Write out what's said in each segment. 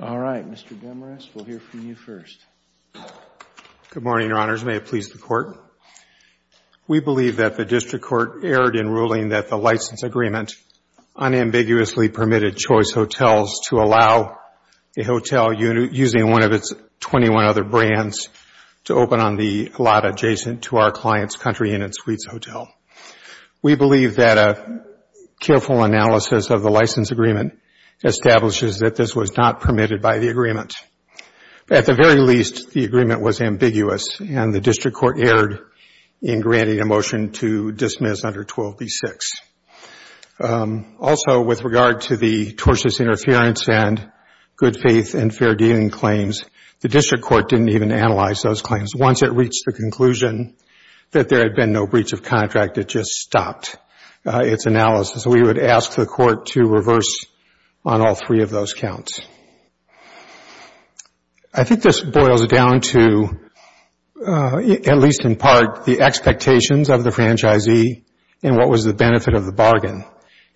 All right, Mr. Demarest, we'll hear from you first. Good morning, Your Honors. May it please the Court? We believe that the District Court erred in ruling that the license agreement unambiguously permitted Choice Hotels to allow a hotel using one of its 21 other brands to open on the lot adjacent to our client's country unit suites hotel. We believe that a careful analysis of the license agreement establishes that this was not permitted by the agreement. At the very least, the agreement was ambiguous and the District Court erred in granting a permission to dismiss under 12b-6. Also, with regard to the tortious interference and good faith and fair dealing claims, the District Court didn't even analyze those claims. Once it reached the conclusion that there had been no breach of contract, it just stopped its analysis. We would ask the Court to reverse on all three of those counts. I think this boils down to, at least in part, the expectations of the franchisee and what was the benefit of the bargain.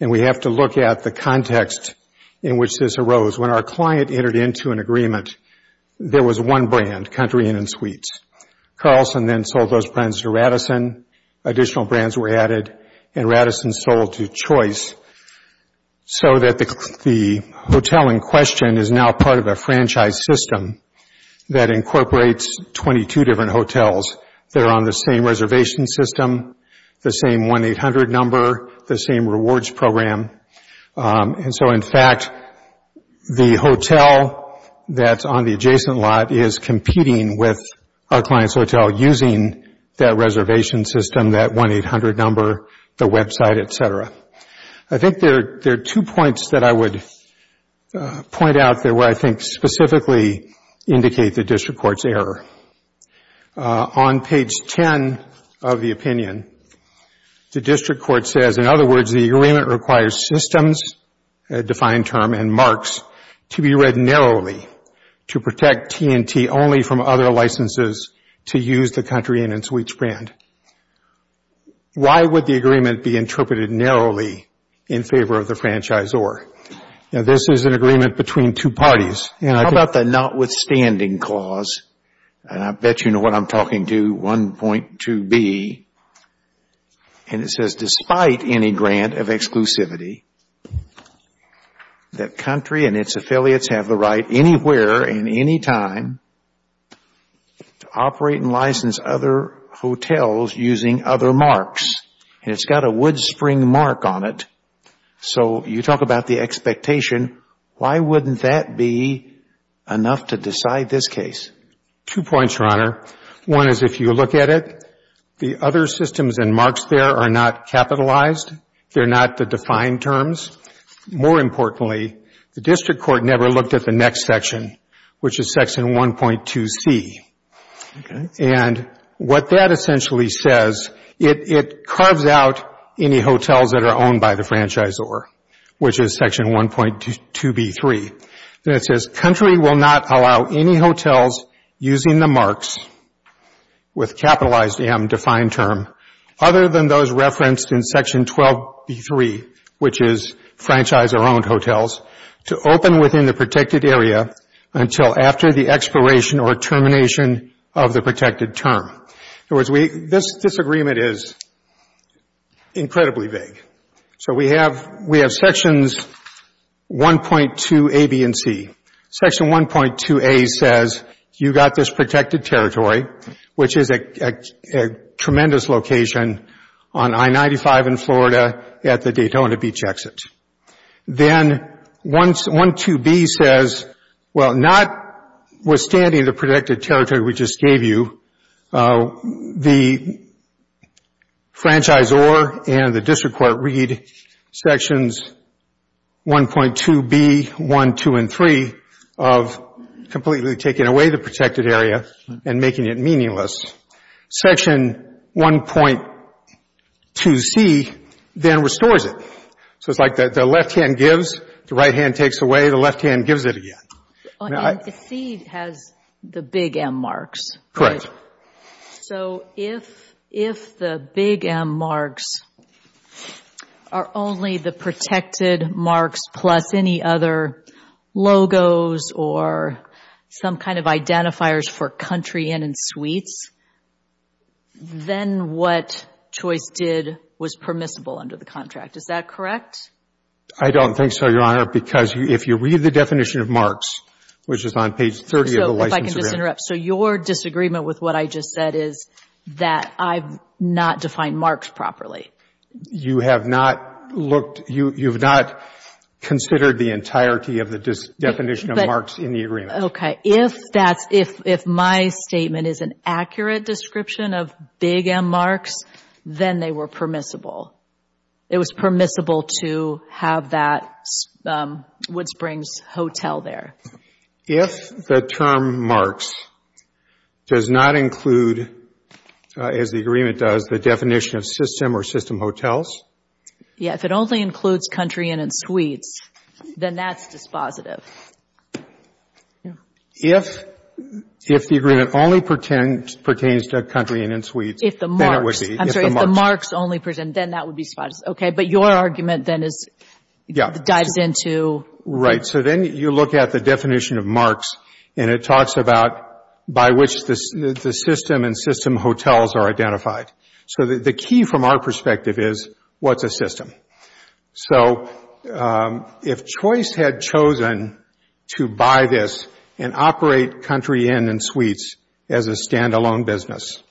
We have to look at the context in which this arose. When our client entered into an agreement, there was one brand, country unit suites. Carlson then sold those brands to Radisson, additional brands were added, and Radisson sold to Choice so that the hotel in question is now part of a franchise system that incorporates 22 different hotels. They are on the same reservation system, the same 1-800 number, the same rewards program. In fact, the hotel that is on the adjacent lot is competing with our client's I think there are two points that I would point out that I think specifically indicate the District Court's error. On page 10 of the opinion, the District Court says, in other words, the agreement requires systems, a defined term, and marks to be read narrowly to protect T&T only from other licenses to use the country unit suites brand. Why would the agreement be interpreted narrowly in favor of the franchisor? This is an agreement between two parties. How about the notwithstanding clause? I bet you know what I am talking to, 1.2b. It says, despite any grant of exclusivity, the country and its affiliates have the right anywhere and any time to operate and license other hotels using other marks. It has got to work a wood spring mark on it. You talk about the expectation. Why wouldn't that be enough to decide this case? Two points, Your Honor. One is if you look at it, the other systems and marks there are not capitalized. They are not the defined terms. More importantly, the District Court never looked at the next section, which is section 1.2c. What that essentially says, it carves out any hotels that are owned by the franchisor, which is section 1.2b.3. It says, country will not allow any hotels using the marks with capitalized M, defined term, other than those referenced in section 12b.3, which is franchisor-owned hotels, to open within the protected area until after the expiration or termination of the protected term. This disagreement is incredibly vague. We have sections 1.2a, b, and c. Section 1.2a says, you got this protected territory, which is a tremendous location on I-95 in Florida at the Daytona Beach exit. Then 1.2b says, notwithstanding the protected territory we just gave you, the franchisor and the District Court read sections 1.2b, 1, 2, and 3 of completely taking away the protected area and making it meaningless. Section 1.2c then restores it. It's like the left hand gives, the right hand takes away, the left hand gives it again. And 1.2c has the big M marks. Correct. So if the big M marks are only the protected marks plus any other logos or some kind of identifiers for country in and suites, then what Choice did was permissible under the contract. Is that correct? I don't think so, Your Honor, because if you read the definition of marks, which is on page 30 of the license agreement. So if I can just interrupt. So your disagreement with what I just said is that I've not defined marks properly? You have not looked, you've not considered the entirety of the definition of marks in the agreement. Okay. If that's, if my statement is an accurate description of big M marks, then they were permissible. It was permissible to have that Wood Springs Hotel there. If the term marks does not include, as the agreement does, the definition of system or system hotels. Yeah, if it only includes country in and suites, then that's dispositive. If the agreement only pertains to country in and suites, then it would be. I'm sorry, if the marks only pertain, then that would be dispositive. Okay, but your argument then is, dives into. Right. So then you look at the definition of marks and it talks about by which the system and system hotels are identified. So the key from our perspective is, what's a system? So if Choice had chosen to buy this and operate country in and suites as a stand-alone business,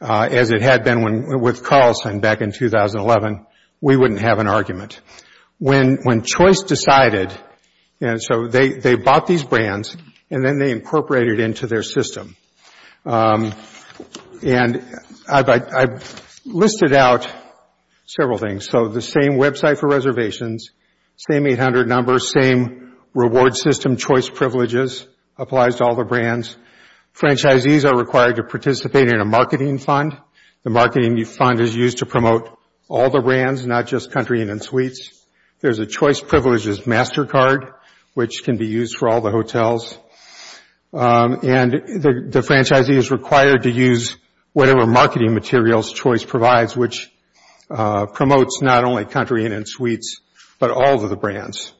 as it had been with Carlson back in 2011, we wouldn't have an argument. When Choice decided, and so they bought these brands and then they incorporated into their system. And I've listed out several things. So the same website for reservations, same 800 numbers, same reward system choice privileges applies to all the brands. Franchisees are required to participate in a marketing fund. The marketing fund is used to promote all the brands, not just country in and suites. There's a choice privileges master card, which can be used for all the hotels. And the franchisee is required to use whatever marketing materials Choice provides, which promotes not only country in and suites, but all of the brands.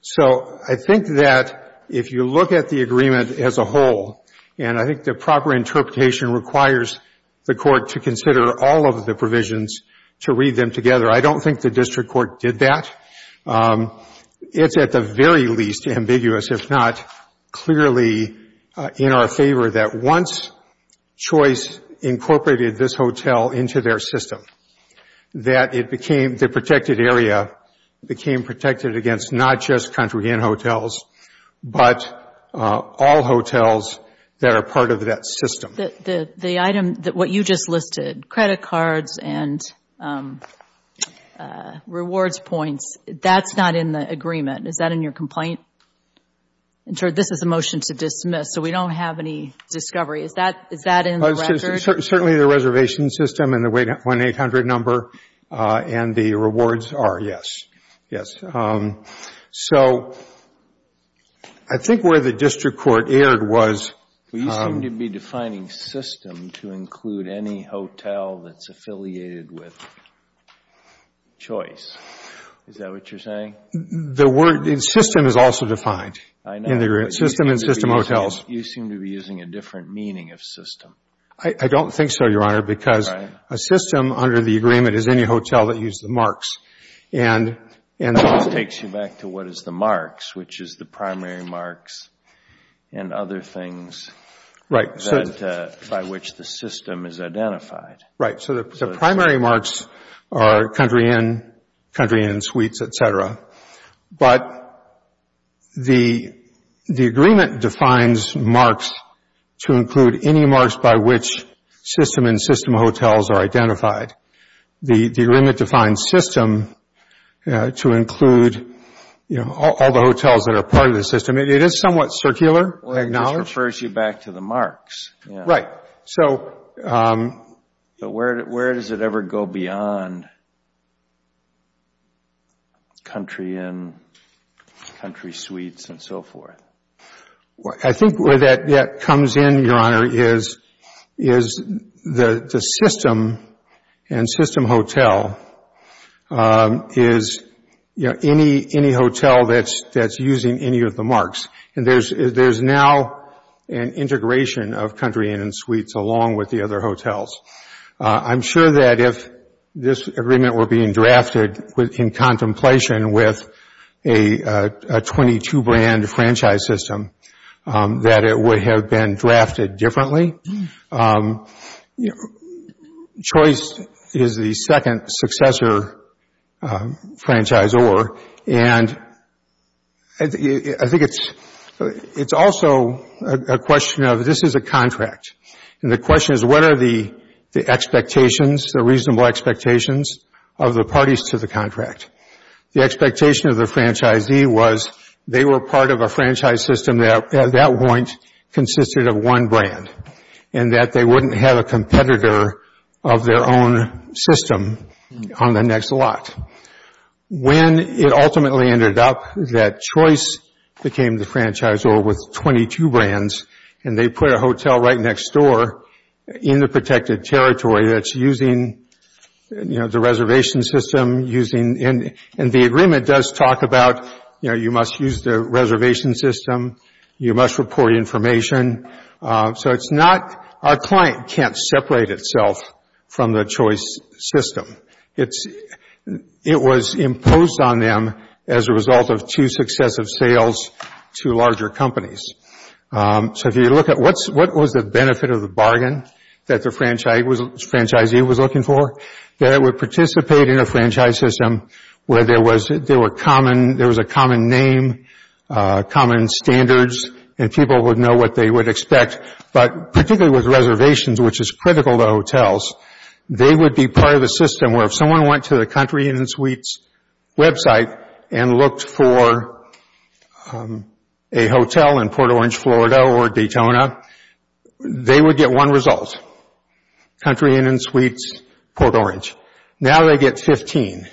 So I think that if you look at the agreement as a whole, and I think the proper interpretation requires the court to consider all of the provisions to read them together. I don't think the district court did that. It's at the very least ambiguous, if not clearly in our favor that once Choice incorporated this hotel into their system, that it became the not just country in hotels, but all hotels that are part of that system. The item that you just listed, credit cards and rewards points, that's not in the agreement. Is that in your complaint? This is a motion to dismiss, so we don't have any discovery. Is that in the record? Certainly the reservation system and the 1-800 number and the rewards are, yes. So I think where the district court erred was... You seem to be defining system to include any hotel that's affiliated with Choice. Is that what you're saying? The word system is also defined in the agreement. System and system hotels. You seem to be using a different meaning of system. I don't think so, Your Honor, because a system under the agreement is any hotel that used the marks. That takes you back to what is the marks, which is the primary marks and other things by which the system is identified. Right. So the primary marks are country in, country in suites, et cetera. But the agreement defines marks to include any marks by which system and system hotels are identified. The agreement defines system to include all the hotels that are part of the system. It is somewhat circular, I acknowledge. It just refers you back to the marks. Right. But where does it ever go beyond country in, country suites, and so forth? I think where that comes in, Your Honor, is the system and system hotel. Is, you know, any hotel that's using any of the marks. And there's now an integration of country in and suites along with the other hotels. I'm sure that if this agreement were being drafted in contemplation with a 22 brand franchise system that it would have been drafted differently. Choice is the second successor franchisor. And I think it's also a question of this is a contract. And the question is what are the expectations, the reasonable expectations of the parties to the contract? The expectation of the franchisee was they were part of a franchise system that at that time was one brand. And that they wouldn't have a competitor of their own system on the next lot. When it ultimately ended up that Choice became the franchisor with 22 brands and they put a hotel right next door in the protected territory that's using, you know, the reservation system using, and the agreement does talk about, you know, you must use the reservation system. You must report information. So it's not, our client can't separate itself from the Choice system. It's, it was imposed on them as a result of two successive sales to larger companies. So if you look at what's, what was the benefit of the bargain that the franchisee was looking for? That it would participate in a franchise system where there was, there were common, there was a common name, common standards, and people would know what they would expect. But particularly with reservations, which is critical to hotels, they would be part of the system where if someone went to the Country Inn & Suites website and looked for a hotel in Port Orange, Florida or Daytona, they would get one result, Country Inn & Suites Port Orange. Now they get 15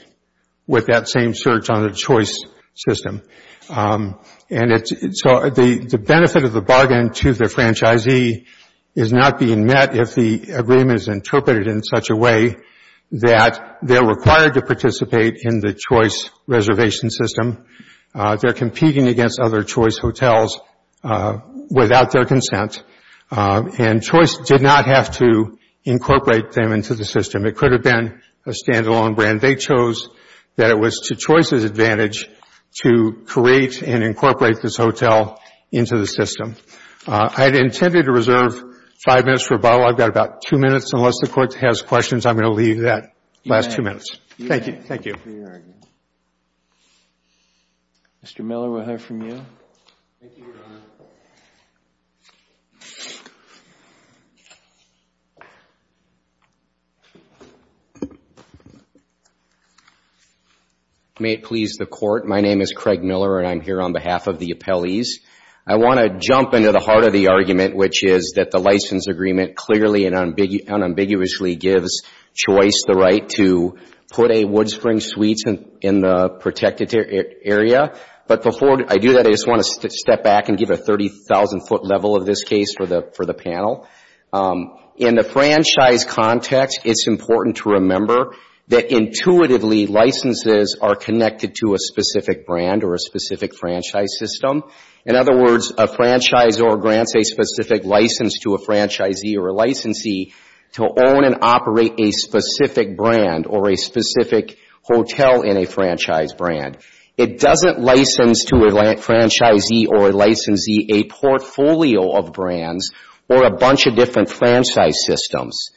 with that same search on the Choice system. And so the benefit of the bargain to the franchisee is not being met if the agreement is interpreted in such a way that they're required to participate in the Choice reservation system. They're competing against other Choice hotels without their consent. And Choice did not have to incorporate them into the system. It could have been a stand-alone brand. They chose that it was to Choice's advantage to create and incorporate this hotel into the system. I had intended to reserve five minutes for a bottle. I've got about two minutes. Unless the Court has questions, I'm going to leave that last two minutes. Thank you. Thank you. Mr. Miller, we'll hear from you. May it please the Court. My name is Craig Miller, and I'm here on behalf of the appellees. I want to jump into the heart of the argument, which is that the license agreement clearly and unambiguously gives Choice the right to put a Woodspring Suites in the protected area. But before I do that, I just want to step back and give a 30,000-foot level of this case for the panel. In the franchise context, it's important to remember that intuitively licenses are connected to a specific brand or a specific franchise system. In other words, a franchiseor grants a specific license to a franchisee or a licensee to own and operate a specific brand or a specific hotel in a franchise brand. It doesn't license to a franchisee or a licensee a portfolio of brands or a bunch of different franchise systems.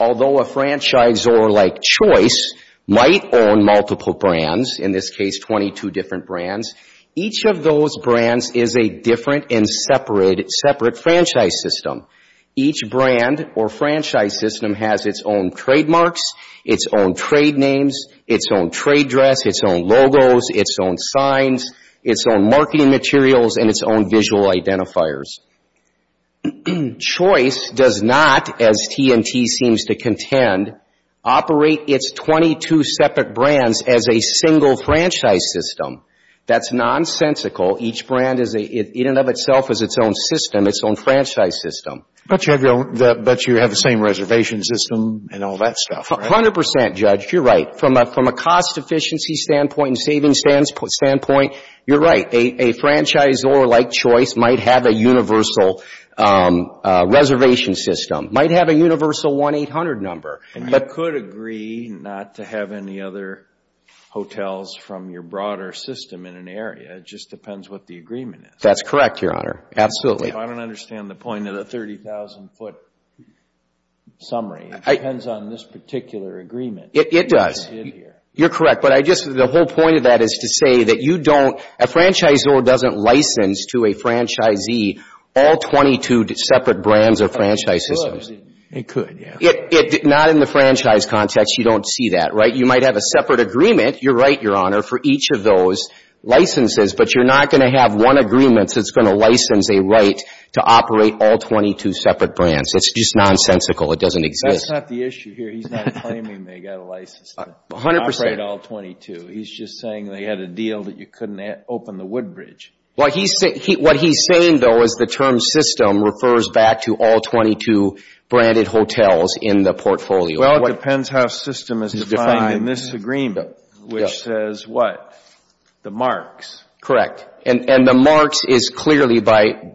Although a franchiseor like Choice might own multiple brands, in this case 22 different brands, each of those brands is a different and separate franchise system. Each brand or franchise system has its own trademarks, its own trade names, its own trade dress, its own logos, its own signs, its own marketing materials, and its own visual identifiers. Choice does not, as T&T seems to contend, operate its 22 separate brands as a single franchise system. That's nonsensical. Each brand in and of itself is its own system, its own franchise system. But you have the same reservation system and all that stuff, right? A hundred percent, Judge. You're right. From a cost efficiency standpoint and savings standpoint, you're right. A franchiseor like Choice might have a universal reservation system, might have a universal 1-800 number. You could agree not to have any other hotels from your broader system in an area. It just depends what the agreement is. That's correct, Your Honor. Absolutely. I don't understand the point of the 30,000-foot summary. It depends on this particular agreement. It does. You're correct. But the whole point of that is to say that a franchiseor doesn't license to a franchisee all 22 separate brands or franchise systems. It could, yeah. Not in the franchise context, you don't see that, right? You might have a separate agreement, you're right, Your Honor, for each of those licenses, but you're not going to have one agreement that's going to license a right to operate all 22 separate brands. It's just nonsensical. It doesn't exist. That's not the issue here. He's not claiming they got a license to operate all 22. He's just saying they had a deal that you couldn't open the wood bridge. What he's saying, though, is the term system refers back to all 22 branded hotels in the portfolio. Well, it depends how system is defined in this agreement, which says what? The marks. Correct. And the marks is clearly by,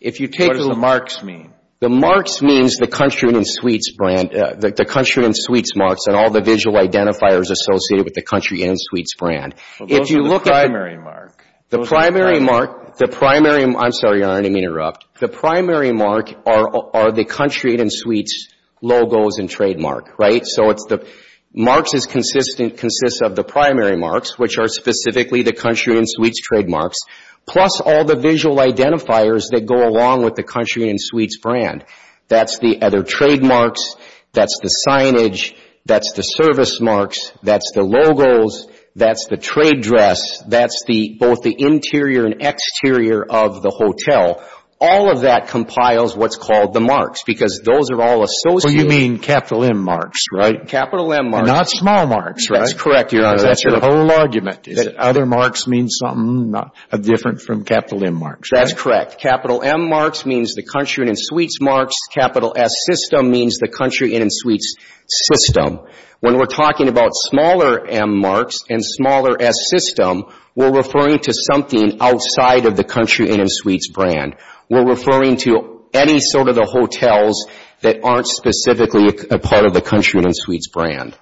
if you take the marks mean, the marks means the country and suites brand, the country and suites marks and all the visual identifiers associated with the country and suites brand. Well, those are the primary mark. The primary mark, the primary, I'm sorry, Your Honor, let me interrupt. The primary mark are the country and suites logos and trademark, right? So it's the, marks is consistent, consists of the primary marks, which are specifically the country and suites trademarks, plus all the visual identifiers that go along with the country and suites brand. That's the other trademarks, that's the signage, that's the service marks, that's the logos, that's the trade dress, that's both the interior and exterior of the hotel. All of that compiles what's called the marks because those are all associated. So you mean capital M marks, right? Capital M marks. Not small marks, right? That's correct, Your Honor. That's your whole argument, is it? Other marks means something different from capital M marks, right? That's correct. Capital M marks means the country and suites marks. Capital S system means the country and suites system. When we're talking about smaller M marks and smaller S system, we're referring to something outside of the country and suites brand. We're referring to any sort of the hotels that aren't specifically a part of the country and suites brand.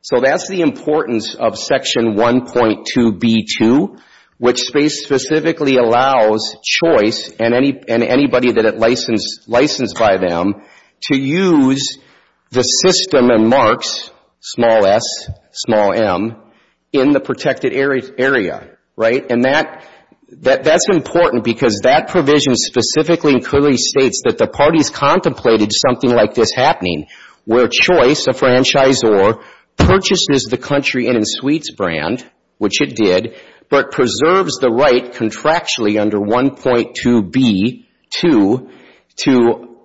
So that's the importance of Section 1.2b2, which specifically allows choice and anybody that is licensed by them to use the system and marks, small s, small m, in the protected area, right? And that's important because that provision specifically and clearly states that the parties contemplated something like this happening where choice, a franchisor, purchases the country and suites brand, which it did, but preserves the right contractually under 1.2b2 to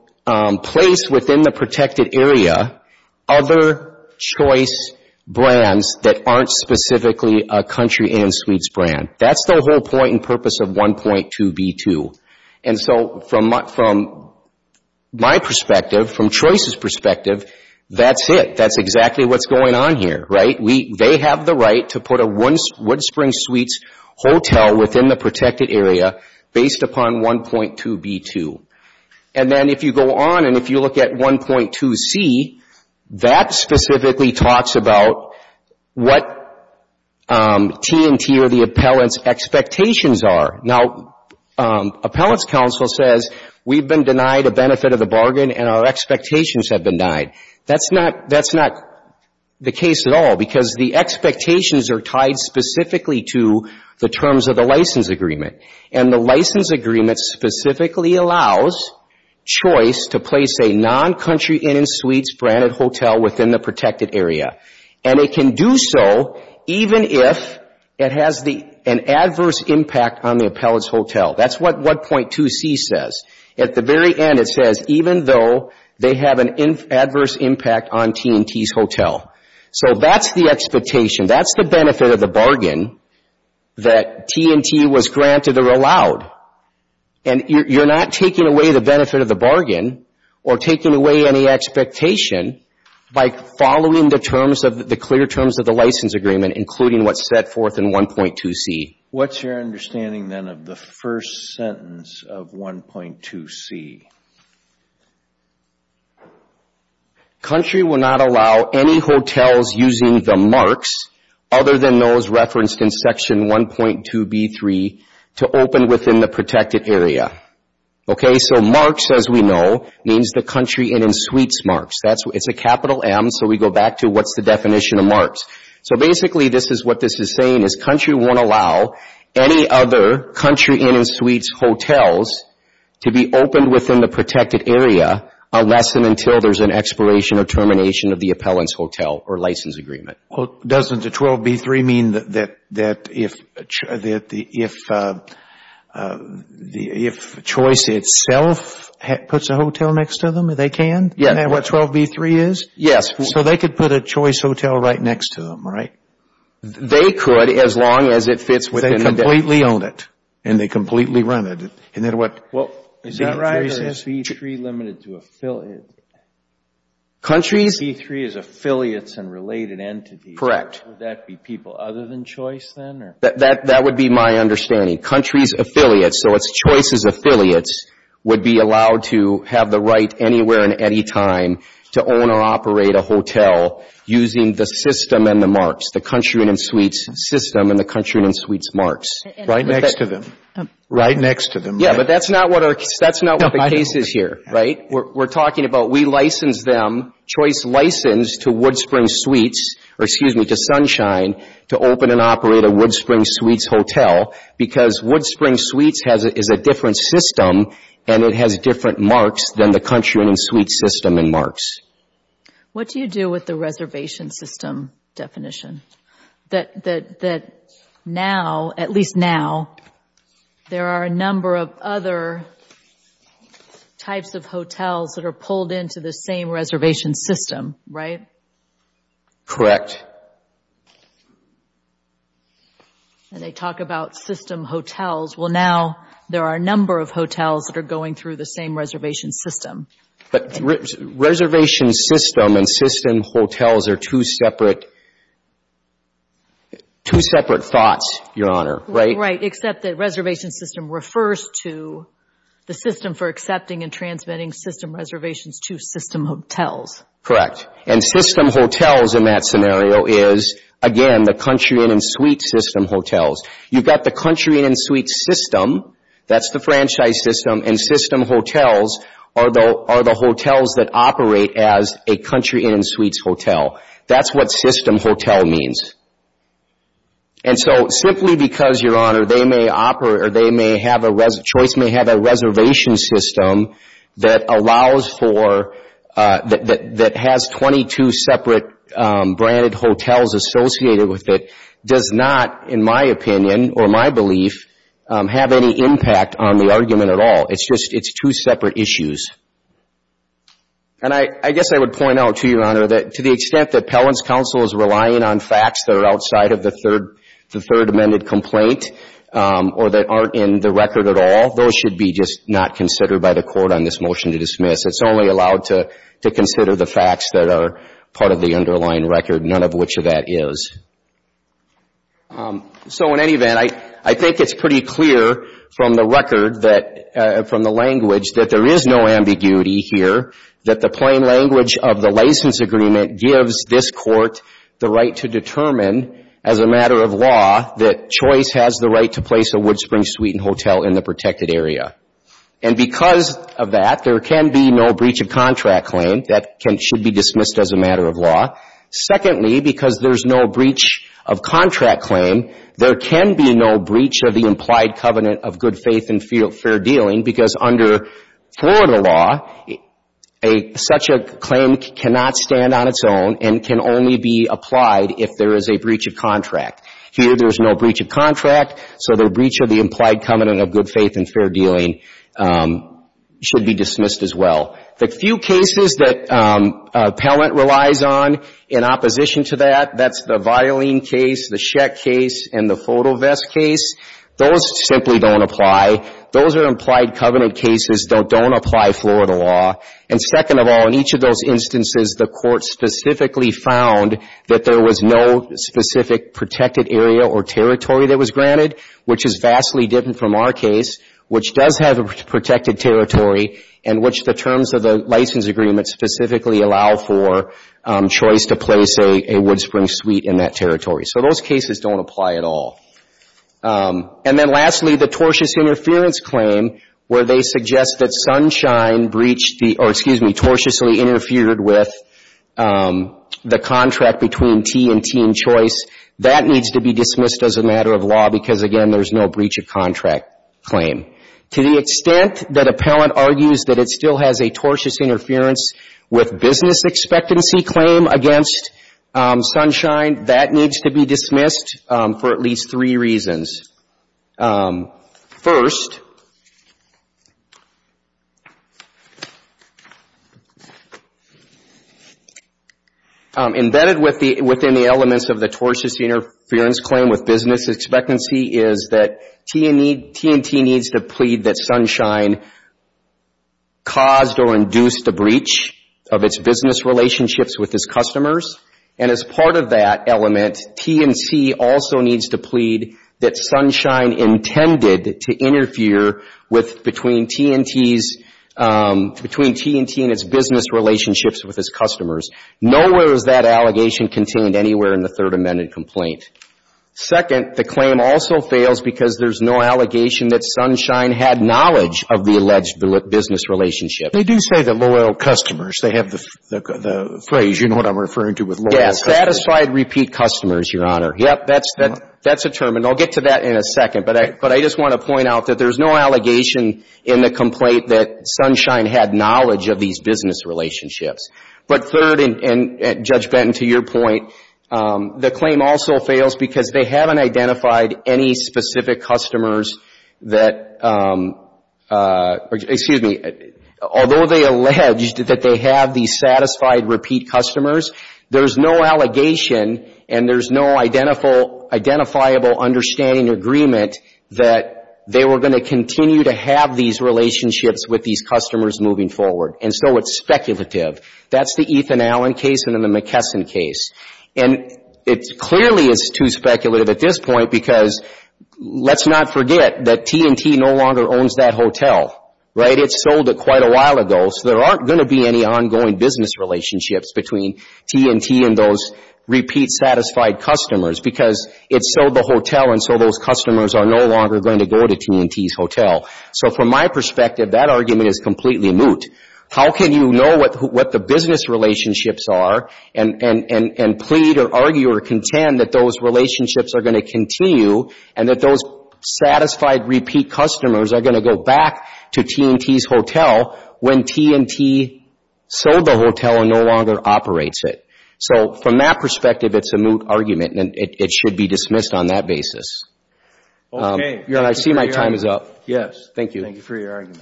place within the protected area other choice brands that aren't specifically a country and suites brand. That's the whole point and purpose of 1.2b2. And so from my perspective, from choice's perspective, that's it. That's exactly what's going on here, right? They have the right to put a Wood Springs Suites Hotel within the protected area based upon 1.2b2. And then if you go on and if you look at 1.2c, that specifically talks about what T&T or the appellant's expectations are. Now, appellant's counsel says we've been denied a benefit of the bargain and our expectations have been denied. That's not the case at all because the expectations are tied specifically to the terms of the license agreement. And the license agreement specifically allows choice to place a non-country and suites branded hotel within the protected area. And it can do so even if it has an adverse impact on the appellant's hotel. That's what 1.2c says. At the very end, it says even though they have an adverse impact on T&T's hotel. So that's the expectation. That's the benefit of the bargain that T&T was granted or allowed. And you're not taking away the benefit of the bargain or taking away any expectation by following the terms of the clear terms of the license agreement including what's set forth in 1.2c. What's your understanding then of the first sentence of 1.2c? Country will not allow any hotels using the marks other than those referenced in Section 1.2b.3 to open within the protected area. Okay? So marks as we know means the country in and suites marks. It's a capital M so we go back to what's the definition of marks. So basically this is what this is saying is country won't allow any other country in and suites hotels to be opened within the protected area unless and until there's an expiration or termination of the appellant's hotel or license agreement. Doesn't the 1.2b.3 mean that if Choice itself puts a hotel next to them, they can? Yes. Isn't that what 1.2b.3 is? Yes. So they could put a Choice hotel right next to them, right? They could as long as it fits within the... They completely own it and they completely run it. Isn't that what... Well, is that right or is 1.2b.3 limited to affiliates? Countries... Related entities. Would that be people other than Choice then? That would be my understanding. Country's affiliates, so it's Choice's affiliates, would be allowed to have the right anywhere and anytime to own or operate a hotel using the system and the marks, the country in and suites system and the country in and suites marks. Right next to them. Right next to them. Yes, but that's not what the case is here, right? We're talking about we license them, Choice licensed to Wood Spring Suites, or excuse me, to Sunshine to open and operate a Wood Spring Suites hotel because Wood Spring Suites is a different system and it has different marks than the country in and suites system and marks. What do you do with the reservation system definition? That now, at least now, there are a number of other types of hotels that are pulled into the same reservation system, right? Correct. And they talk about system hotels. Well, now there are a number of hotels that are going through the same reservation system. But reservation system and system hotels are two separate thoughts, Your Honor, right? Right, except that reservation system refers to the system for accepting and transmitting system reservations to system hotels. Correct. And system hotels in that scenario is, again, the country in and suites system hotels. You've got the country in and suites system. That's the franchise system. And system hotels are the hotels that operate as a country in and suites hotel. That's what system hotel means. And so simply because, Your Honor, they may have a reservation system that allows for, that has 22 separate branded hotels associated with it, does not, in my opinion or my belief, have any impact on the argument at all. It's just two separate issues. And I guess I would point out to you, Your Honor, that to the extent that Pelham's Counsel is relying on facts that are outside of the Third Amendment complaint or that aren't in the record at all, those should be just not considered by the Court on this motion to dismiss. It's only allowed to consider the facts that are part of the underlying record, none of which of that is. So in any event, I think it's pretty clear from the record that, from the language, that there is no ambiguity here, that the plain language of the license agreement gives this Court the right to determine, as a matter of law, that Choice has the right to place a Wood Springs Suite and Hotel in the protected area. And because of that, there can be no breach of contract claim. That should be dismissed as a matter of law. Secondly, because there's no breach of contract claim, there can be no breach of the implied covenant of good faith and fair dealing, because under Florida law, such a claim cannot stand on its own and can only be applied if there is a breach of contract. Here, there's no breach of contract, so the breach of the implied covenant of good faith and fair dealing should be dismissed as well. The few cases that Pelham relies on in opposition to that, that's the Violene case, the Sheck case, and the Fotovest case, those simply don't apply. Those are implied covenant cases. They don't apply Florida law. And second of all, in each of those instances, the Court specifically found that there was no specific protected area or territory that was granted, which is vastly different from our case, which does have a protected territory and which the terms of the license agreement specifically allow for Choice to place a Wood Springs Suite in that territory. So those cases don't apply at all. And then lastly, the tortious interference claim, where they suggest that Sunshine breached the or, excuse me, tortiously interfered with the contract between Tee and Tee and Choice, that needs to be dismissed as a matter of law because, again, there's no breach of contract claim. To the extent that Appellant argues that it still has a tortious interference with business expectancy claim against Sunshine, that needs to be dismissed for at least three reasons. First, embedded within the elements of the tortious interference claim with business expectancy is that Tee and Tee needs to plead that Sunshine caused or induced a breach of its business relationships with its customers. And as part of that element, Tee and Tee also needs to plead that Sunshine intended to interfere with, between Tee and Tee's, between Tee and Tee and its business relationships with its customers. Nowhere is that allegation contained anywhere in the Third Amendment complaint. Second, the claim also fails because there's no allegation that Sunshine had knowledge of the alleged business relationship. They do say the loyal customers. They have the phrase, you know what I'm referring to, with loyal customers. Yes. Satisfied repeat customers, Your Honor. Yep. That's a term. And I'll get to that in a second. But I just want to point out that there's no allegation in the complaint that Sunshine had knowledge of these business relationships. But third, and Judge Benton, to your point, the claim also fails because they haven't identified any specific customers that, excuse me, although they allege that they have these satisfied repeat customers, there's no allegation and there's no identifiable understanding agreement that they were going to continue to have these relationships with these customers moving forward. And so it's speculative. That's the Ethan Allen case and the McKesson case. And it clearly is too speculative at this point because let's not forget that T&T no longer owns that hotel. Right? It sold it quite a while ago. So there aren't going to be any ongoing business relationships between T&T and those repeat satisfied customers because it sold the hotel and so those customers are no longer going to go to T&T's hotel. So from my perspective, that argument is completely moot. How can you know what the business relationships are and plead or argue or contend that those relationships are going to continue and that those satisfied repeat customers are going to go back to T&T's hotel when T&T sold the hotel and no longer operates it? So from that perspective, it's a moot argument and it should be dismissed on that basis. Okay. I see my time is up. Yes. Thank you. Thank you for your argument.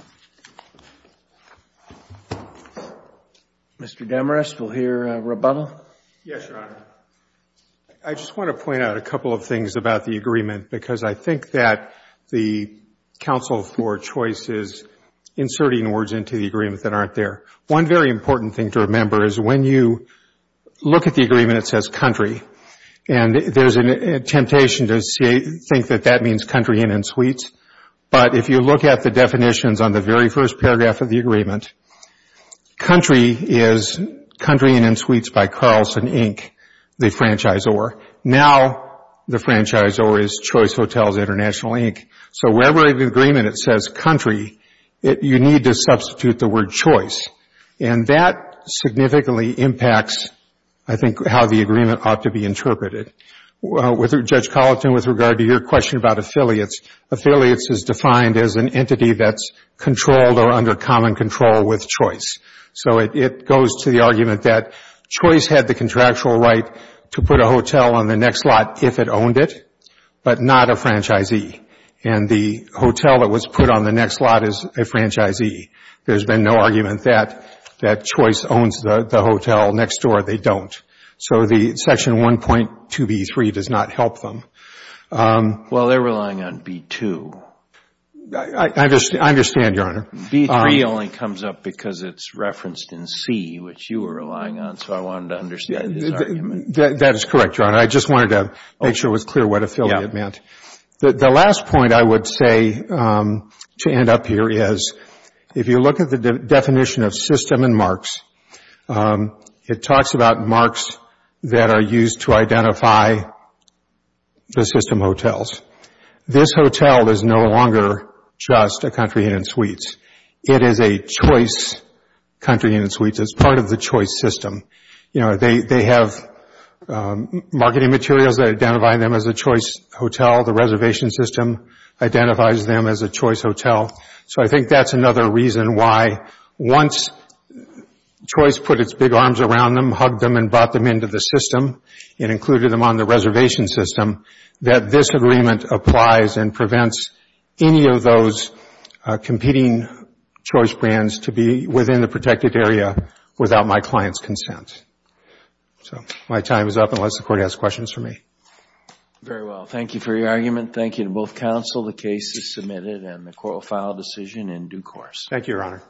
Mr. Demarest, we'll hear rebuttal. Yes, Your Honor. I just want to point out a couple of things about the agreement because I think that the counsel for choice is inserting words into the agreement that aren't there. One very important thing to remember is when you look at the agreement, it says country, and there's a temptation to think that that means country inn and suites. But if you look at the definitions on the very first paragraph of the agreement, country is country inn and suites by Carlson, Inc., the franchisor. Now the franchisor is Choice Hotels International, Inc. So wherever in the agreement it says country, you need to substitute the word choice. And that significantly impacts, I think, how the agreement ought to be interpreted. Judge Colleton, with regard to your question about affiliates, affiliates is defined as an entity that's controlled or under common control with choice. So it goes to the argument that choice had the contractual right to put a hotel on the next lot if it owned it, but not a franchisee. And the hotel that was put on the next lot is a franchisee. There's been no argument that choice owns the hotel next door. They don't. So the section 1.2b3 does not help them. Well, they're relying on b2. I understand, Your Honor. b3 only comes up because it's referenced in c, which you were relying on. So I wanted to understand this argument. That is correct, Your Honor. I just wanted to make sure it was clear what affiliate meant. The last point I would say to end up here is if you look at the definition of system and marks, it talks about marks that are used to identify the system hotels. This hotel is no longer just a country inn and suites. It is a choice country inn and suites. It's part of the choice system. They have marketing materials that identify them as a choice hotel. The reservation system identifies them as a choice hotel. So I think that's another reason why once choice put its big arms around them, hugged them, and brought them into the system and included them on the reservation system, that this agreement applies and prevents any of those competing choice brands to be within the protected area without my client's consent. So my time is up unless the Court has questions for me. Very well. Thank you for your argument. Thank you to both counsel. The case is submitted and the Court will file a decision in due course. Thank you, Your Honor.